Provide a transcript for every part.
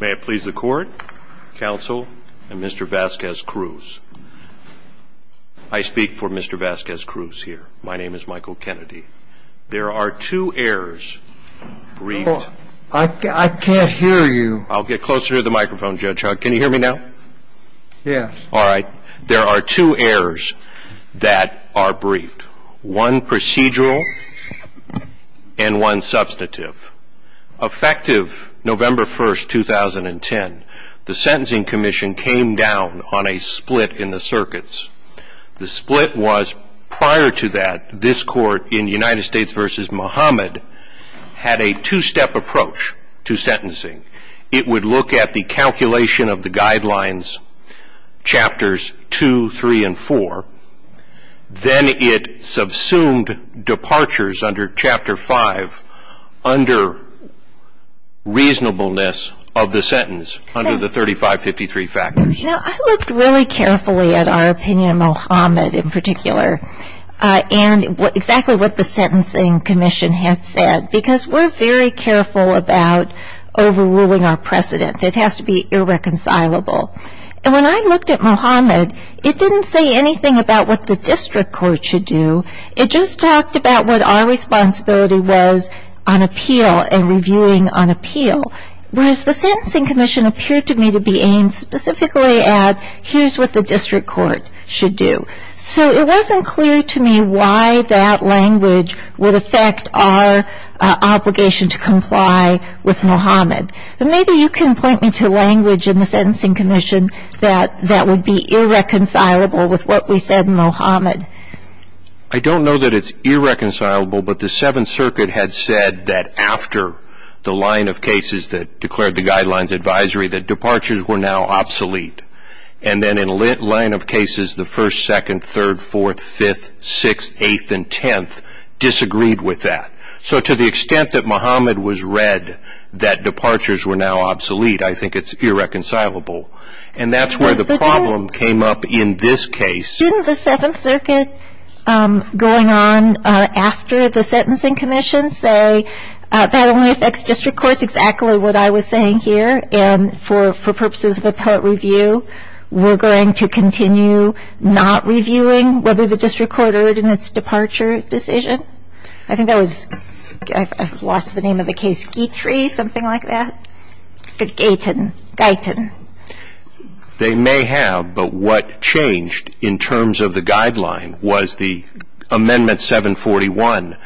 May it please the court, counsel, and Mr. Vasquez-Cruz. I speak for Mr. Vasquez-Cruz here. My name is Michael Kennedy. There are two heirs briefed. I can't hear you. I'll get closer to the microphone, Judge. Can you hear me now? Yes. All right. There are two heirs that are briefed. One procedural and one substantive. Effective November 1, 2010, the Sentencing Commission came down on a split in the circuits. The split was, prior to that, this court in United States v. Muhammad had a two-step approach to sentencing. It would look at the calculation of the guidelines, chapters 2, 3, and 4. Then it subsumed departures under chapter 5 under reasonableness of the sentence, under the 3553 factors. Now, I looked really carefully at our opinion of Muhammad, in particular, and exactly what the Sentencing Commission had said, because we're very careful about overruling our precedent. It has to be irreconcilable. When I looked at Muhammad, it didn't say anything about what the district court should do. It just talked about what our responsibility was on appeal and reviewing on appeal. Whereas the Sentencing Commission appeared to me to be aimed specifically at, here's what the district court should do. So it wasn't clear to me why that language would affect our obligation to comply with Muhammad. Maybe you can point me to language in the Sentencing Commission that would be irreconcilable with what we said in Muhammad. I don't know that it's irreconcilable, but the Seventh Circuit had said that, after the line of cases that declared the guidelines advisory, that departures were now obsolete. Then in a line of cases, the first, second, third, fourth, fifth, sixth, eighth, and tenth disagreed with that. So to the extent that Muhammad was read that departures were now obsolete, I think it's irreconcilable. And that's where the problem came up in this case. Didn't the Seventh Circuit, going on after the Sentencing Commission, say that only affects district courts? Exactly what I was saying here, and for purposes of appellate review, we're going to continue not reviewing whether the district court ordered in its departure decision? I think that was, I've lost the name of the case, Guitry, something like that? Gaitin. They may have, but what changed in terms of the guideline was the Amendment 741.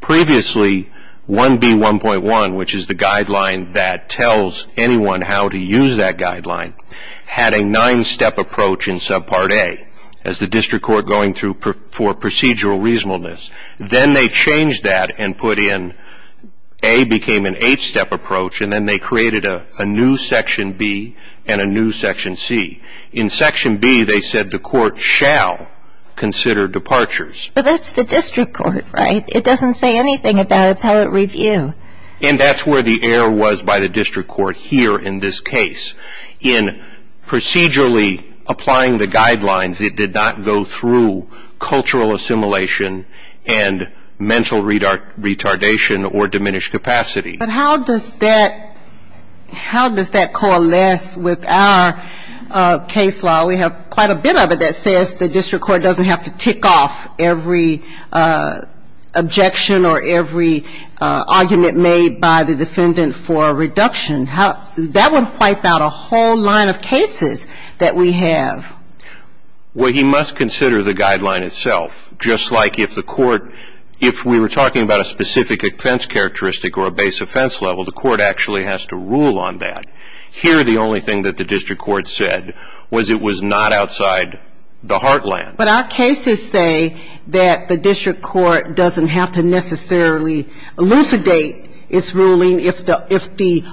Previously, 1B1.1, which is the guideline that tells anyone how to use that guideline, had a nine-step approach in Subpart A, as the district court going through for procedural reasonableness. Then they changed that and put in, A became an eight-step approach, and then they created a new Section B and a new Section C. In Section B, they said the court shall consider departures. But that's the district court, right? It doesn't say anything about appellate review. And that's where the error was by the district court here in this case. In procedurally applying the guidelines, it did not go through cultural assimilation and mental retardation or diminished capacity. But how does that, how does that coalesce with our case law? We have quite a bit of it that says the district court doesn't have to tick off every objection or every argument made by the defendant for a reduction. How, that would wipe out a whole line of cases that we have. Well, he must consider the guideline itself, just like if the court, if we were talking about a specific offense characteristic or a base offense level, the court actually has to rule on that. Here, the only thing that the district court said was it was not outside the heartland. But our cases say that the district court doesn't have to necessarily elucidate its ruling. If the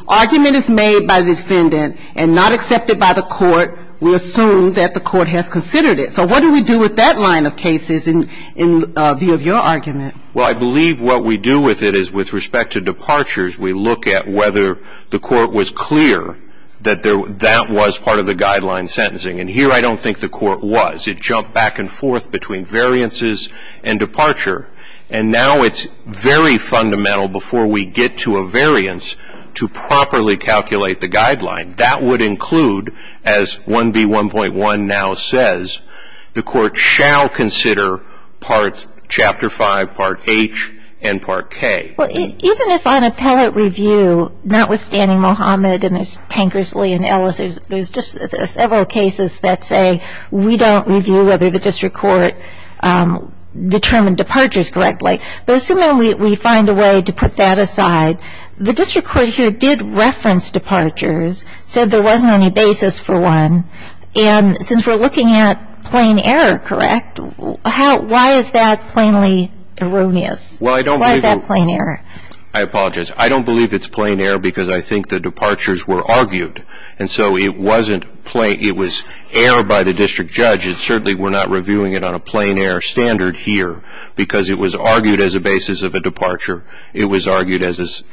argument is made by the defendant and not accepted by the court, we assume that the court has considered it. So what do we do with that line of cases in view of your argument? Well, I believe what we do with it is with respect to departures, we look at whether the court was clear that that was part of the guideline sentencing. And here, I don't think the court was. It jumped back and forth between variances and departure. And now it's very fundamental before we get to a variance to properly calculate the guideline. That would include, as 1B1.1 now says, the court shall consider parts chapter 5, part H, and part K. Well, even if on appellate review, notwithstanding Mohamed and there's Tankersley and Ellis, there's just several cases that say we don't review whether the district court determined departures correctly. But assuming we find a way to put that aside, the district court here did reference departures, said there wasn't any basis for one, and since we're looking at plain error, correct, why is that plainly erroneous? Why is that plain error? I apologize. I don't believe it's plain error because I think the departures were argued. And so it wasn't plain, it was error by the district judge. It certainly, we're not reviewing it on a plain error standard here because it was argued as a basis of a departure. It was argued as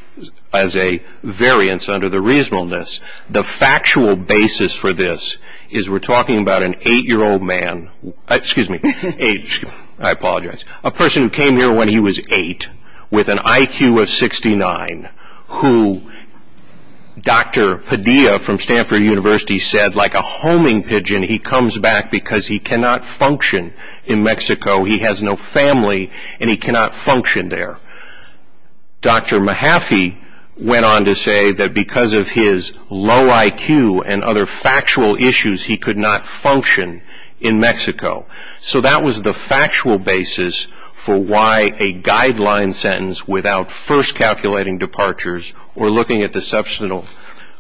a variance under the reasonableness. The factual basis for this is we're talking about an eight-year-old man, excuse me, eight, I apologize, a person who came here when he was eight with an IQ of 69 who Dr. Padilla from Stanford University said, like a homing pigeon, he comes back because he cannot function in Mexico. He has no family and he cannot function there. Dr. Mahaffey went on to say that because of his low IQ and other factual issues, he could not function in Mexico. So that was the factual basis for why a guideline sentence without first calculating departures or looking at the substantial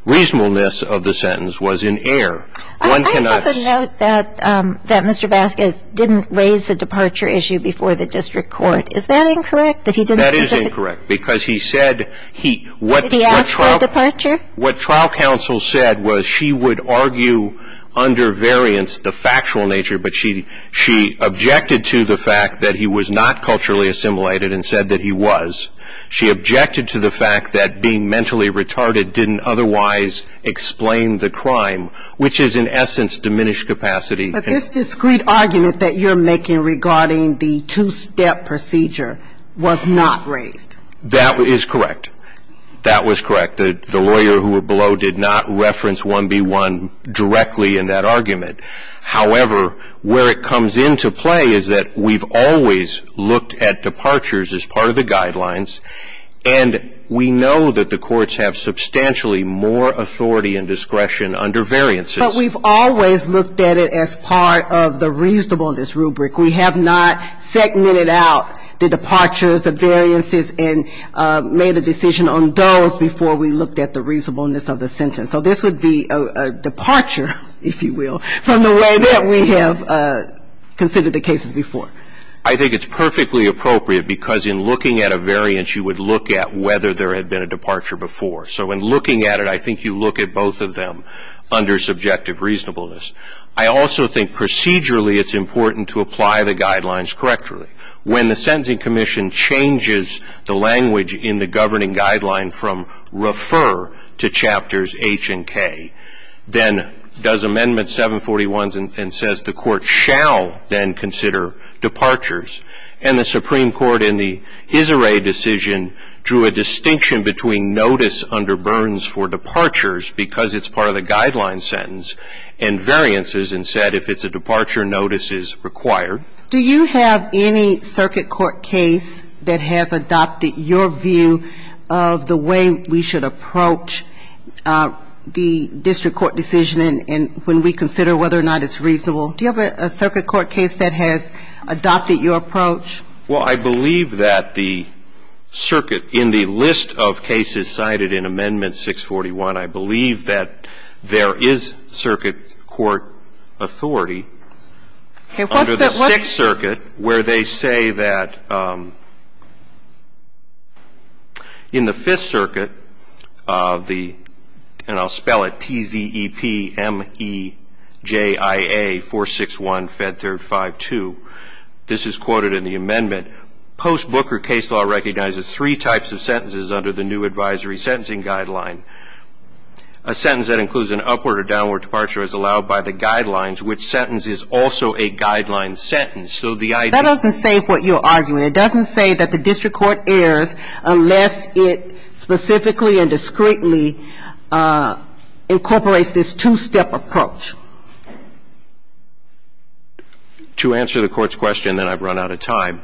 reasonableness of the sentence was in error. One can also note that Mr. Vasquez didn't raise the departure issue before the district court. Is that incorrect? That he didn't- That is incorrect, because he said he, what- Did he ask for a departure? What trial counsel said was she would argue under variance the factual nature, but she objected to the fact that he was not culturally assimilated and said that he was. She objected to the fact that being mentally retarded didn't otherwise explain the crime, which is in essence diminished capacity. But this discreet argument that you're making regarding the two-step procedure was not raised. That is correct. That was correct. The lawyer who were below did not reference 1B1 directly in that argument. However, where it comes into play is that we've always looked at departures as part of the guidelines, and we know that the courts have substantially more authority and discretion under variances. But we've always looked at it as part of the reasonableness rubric. We have not segmented out the departures, the variances, and made a decision on those before we looked at the reasonableness of the sentence. So this would be a departure, if you will, from the way that we have considered the cases before. I think it's perfectly appropriate because in looking at a variance, you would look at whether there had been a departure before. So in looking at it, I think you look at both of them under subjective reasonableness. I also think procedurally it's important to apply the guidelines correctly. When the Sentencing Commission changes the language in the governing guideline from refer to chapters H and K, then does Amendment 741 and says the court shall then consider departures, and the Supreme Court in the Isseret decision drew a distinction between notice under Burns for departures, because it's part of the guideline sentence, and variances, and said if it's a departure, notice is required. Do you have any circuit court case that has adopted your view of the way we should approach the district court decision and when we consider whether or not it's reasonable? Do you have a circuit court case that has adopted your approach? Well, I believe that the circuit in the list of cases cited in Amendment 641, I believe that there is circuit court authority under the Sixth Circuit where they say that in the Fifth Circuit of the, and I'll spell it, TZEPMEJIA461FED352. This is quoted in the amendment. Post-Booker case law recognizes three types of sentences under the new advisory sentencing guideline. A sentence that includes an upward or downward departure is allowed by the guidelines, which sentence is also a guideline sentence. So the idea. That doesn't say what you're arguing. It doesn't say that the district court errs unless it specifically and discreetly incorporates this two-step approach. To answer the court's question, then I've run out of time.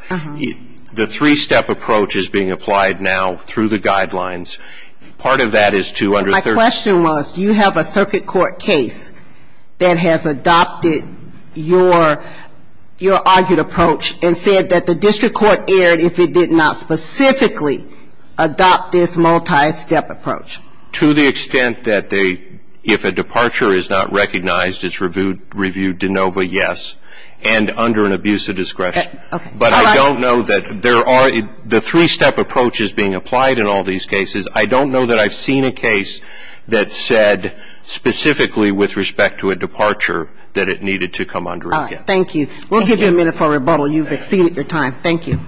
The three-step approach is being applied now through the guidelines. Part of that is to under. My question was, do you have a circuit court case that has adopted your argued approach and said that the district court erred if it did not specifically adopt this multi-step approach? To the extent that they, if a departure is not recognized, it's reviewed de novo, yes. And under an abuse of discretion. Okay. But I don't know that there are, the three-step approach is being applied in all these cases. I don't know that I've seen a case that said specifically with respect to a departure that it needed to come under again. All right. Thank you. We'll give you a minute for rebuttal. You've exceeded your time. Thank you.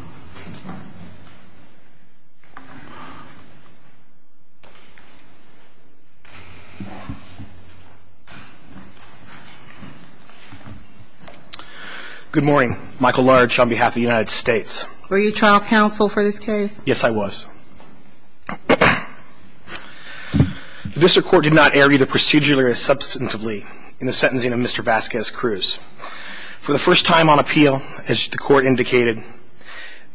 Good morning. Michael Large on behalf of the United States. Were you trial counsel for this case? Yes, I was. The district court did not err either procedurally or substantively in the sentencing of Mr. Vasquez-Cruz. For the first time on appeal, as the court indicated,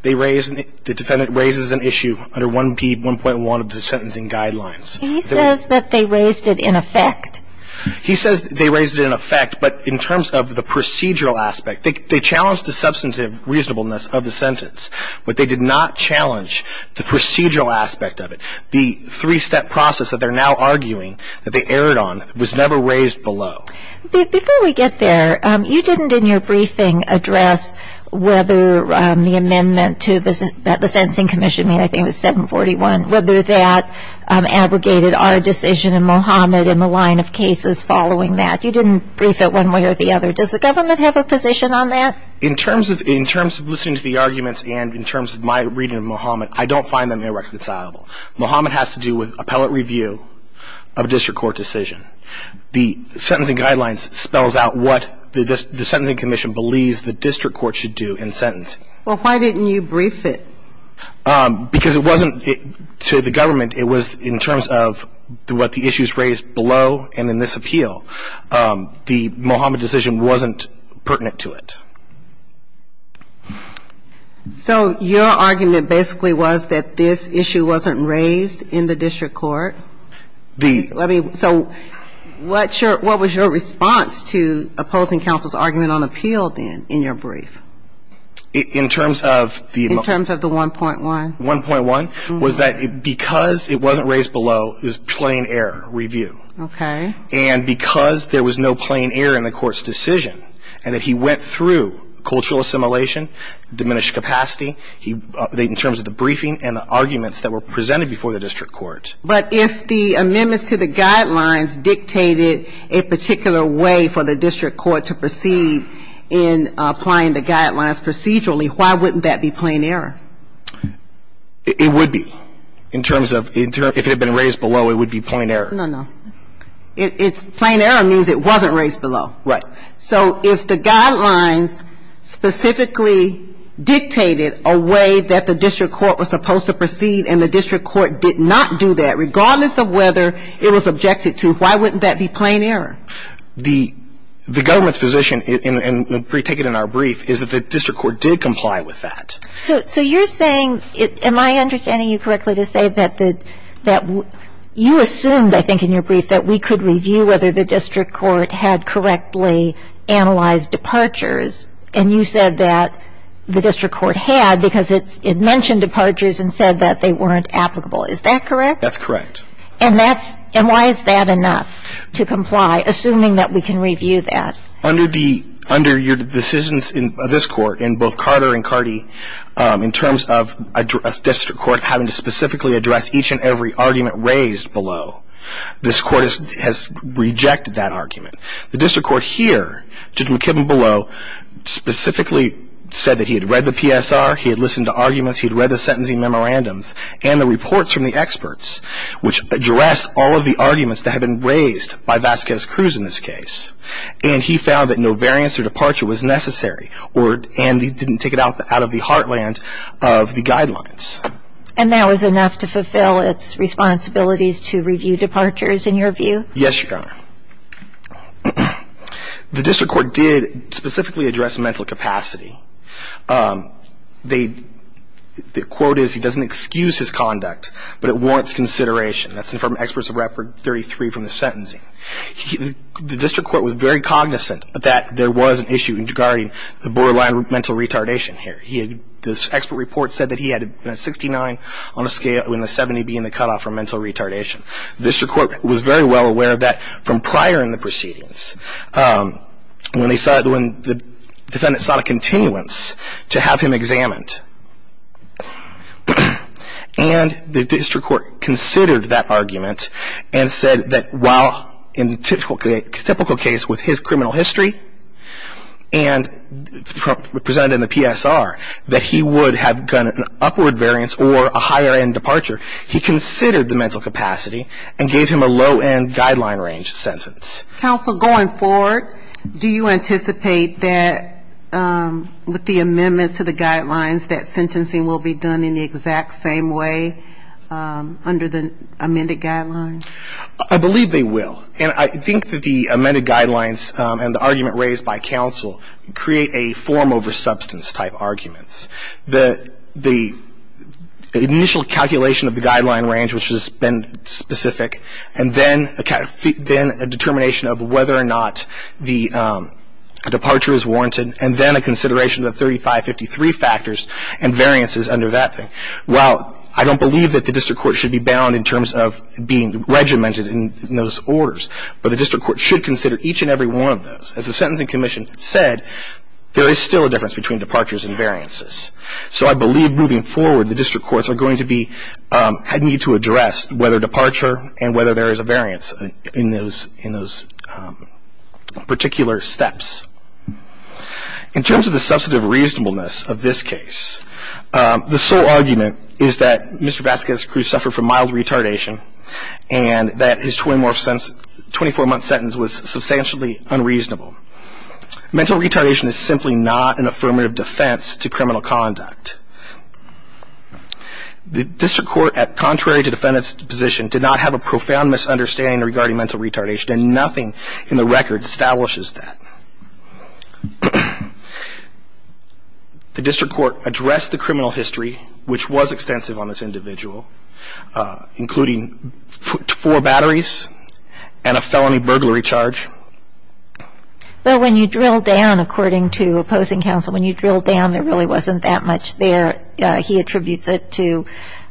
they raised, the defendant raises an issue under 1.1 of the sentencing guidelines. He says that they raised it in effect. He says they raised it in effect, but in terms of the procedural aspect, they challenged the substantive reasonableness of the sentence. But they did not challenge the procedural aspect of it. The three-step process that they're now arguing that they erred on was never raised below. Before we get there, you didn't in your briefing address whether the amendment to the sentencing commission, I think it was 741, whether that abrogated our decision in Mohamed in the line of cases following that. You didn't brief it one way or the other. Does the government have a position on that? In terms of listening to the arguments and in terms of my reading of Mohamed, I don't find them irreconcilable. Mohamed has to do with appellate review of a district court decision. The sentencing guidelines spells out what the sentencing commission believes the district court should do in sentencing. Well, why didn't you brief it? Because it wasn't to the government. It was in terms of what the issues raised below and in this appeal. The Mohamed decision wasn't pertinent to it. So your argument basically was that this issue wasn't raised in the district court? So what was your response to opposing counsel's argument on appeal then in your brief? In terms of the 1.1? 1.1 was that because it wasn't raised below is plain error review. Okay. And because there was no plain error in the court's decision and that he went through cultural assimilation, diminished capacity in terms of the briefing and the arguments that were presented before the district court. But if the amendments to the guidelines dictated a particular way for the district court to proceed in applying the guidelines procedurally, why wouldn't that be plain error? It would be in terms of if it had been raised below, it would be plain error. No, no. Plain error means it wasn't raised below. Right. So if the guidelines specifically dictated a way that the district court was supposed to proceed and the district court did not do that, regardless of whether it was objected to, why wouldn't that be plain error? The government's position, and we take it in our brief, is that the district court did comply with that. So you're saying, am I understanding you correctly to say that you assumed in your brief that we could review whether the district court had correctly analyzed departures and you said that the district court had because it mentioned departures and said that they weren't applicable. Is that correct? That's correct. And why is that enough to comply, assuming that we can review that? Under your decisions in this court, in both Carter and Carty, in terms of a district court having to specifically address each and every argument raised below, this court has rejected that argument. The district court here, Judge McKibben below, specifically said that he had read the PSR, he had listened to arguments, he had read the sentencing memorandums, and the reports from the experts, which addressed all of the arguments that had been raised by Vasquez Cruz in this case, and he found that no variance or departure was necessary, and he didn't take it out of the heartland of the guidelines. And that was enough to fulfill its responsibilities to review departures, in your view? Yes, Your Honor. The district court did specifically address mental capacity. They, the quote is, he doesn't excuse his conduct, but it warrants consideration. That's from experts of Record 33 from the sentencing. The district court was very cognizant that there was an issue regarding the borderline mental retardation here. The expert report said that he had a 69 on a scale, and a 70 being the cutoff for mental retardation. The district court was very well aware of that from prior in the proceedings, when the defendant sought a continuance to have him examined. And the district court considered that argument and said that while in a typical case with his criminal history, and presented in the PSR, that he would have gotten an upward variance or a higher end departure. He considered the mental capacity and gave him a low end guideline range sentence. Counsel, going forward, do you anticipate that with the amendments to the guidelines that sentencing will be done in the exact same way under the amended guidelines? I believe they will. I think that the amended guidelines and the argument raised by counsel create a form over substance type arguments. The initial calculation of the guideline range, which has been specific, and then a determination of whether or not the departure is warranted, and then a consideration of the 3553 factors and variances under that thing. While I don't believe that the district court should be bound in terms of being regimented in those orders, but the district court should consider each and every one of those. As the Sentencing Commission said, there is still a difference between departures and variances. So I believe moving forward, the district courts are going to need to address whether departure and whether there is a variance in those particular steps. In terms of the substantive reasonableness of this case, the sole argument is that Mr. McCarty's 24-month sentence was substantially unreasonable. Mental retardation is simply not an affirmative defense to criminal conduct. The district court, contrary to defendant's position, did not have a profound misunderstanding regarding mental retardation, and nothing in the record establishes that. The district court addressed the criminal history, which was extensive on this individual, including four batteries and a felony burglary charge. But when you drill down, according to opposing counsel, when you drill down, there really wasn't that much there. He attributes it to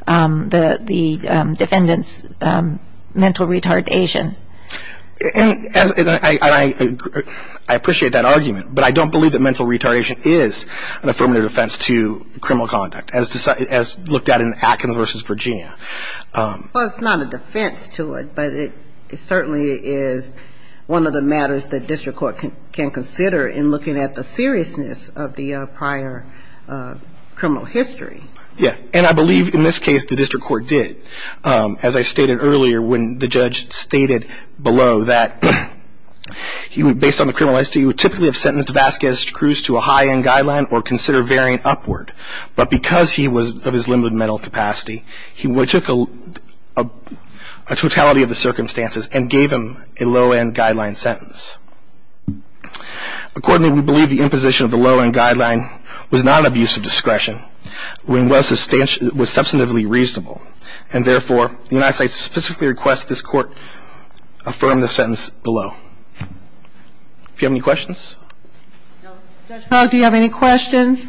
the defendant's mental retardation. I appreciate that argument, but I don't believe that mental retardation is an affirmative offense to criminal conduct, as looked at in Atkins v. Virginia. Well, it's not a defense to it, but it certainly is one of the matters that district court can consider in looking at the seriousness of the prior criminal history. Yeah, and I believe in this case, the district court did. As I stated earlier, when the judge stated below that, based on the criminal history, he would typically have sentenced Vasquez-Cruz to a high-end guideline or consider varying upward, but because he was of his limited mental capacity, he took a totality of the circumstances and gave him a low-end guideline sentence. Accordingly, we believe the imposition of the low-end guideline was not an abuse of discretion, when it was substantively reasonable, and therefore, the United States specifically requests this court affirm the sentence below. Do you have any questions? No. Judge Pogue, do you have any questions?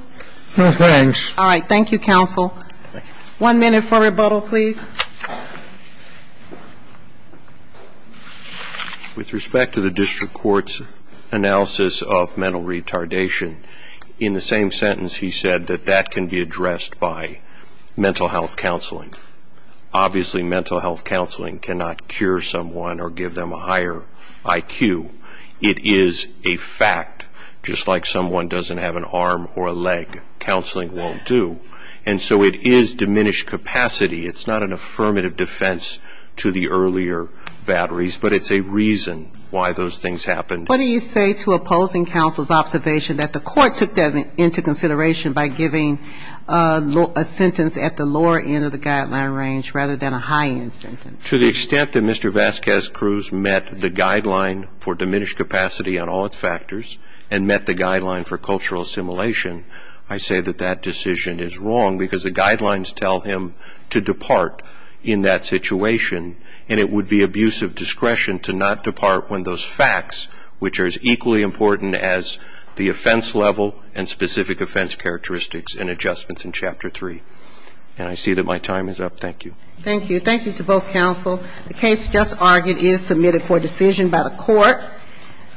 No, thanks. All right. Thank you, counsel. Thank you. One minute for rebuttal, please. With respect to the district court's analysis of mental retardation, in the same sentence, he said that that can be addressed by mental health counseling. Obviously, mental health counseling cannot cure someone or give them a higher I.T. It is a fact, just like someone doesn't have an arm or a leg. Counseling won't do, and so it is diminished capacity. It's not an affirmative defense to the earlier batteries, but it's a reason why those things happened. What do you say to opposing counsel's observation that the court took that into consideration by giving a sentence at the lower end of the guideline range rather than a high-end sentence? To the extent that Mr. Vasquez-Cruz met the guideline for diminished capacity on all its factors and met the guideline for cultural assimilation, I say that that decision is wrong because the guidelines tell him to depart in that situation, and it would be abusive discretion to not depart when those facts, which are as equally important as the offense level and specific offense characteristics and adjustments in Chapter 3. And I see that my time is up. Thank you. Thank you. Thank you to both counsel. The case just argued is submitted for decision by the court.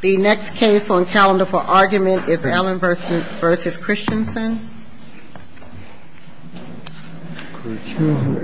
The next case on calendar for argument is Allen v. Christensen. Thank you.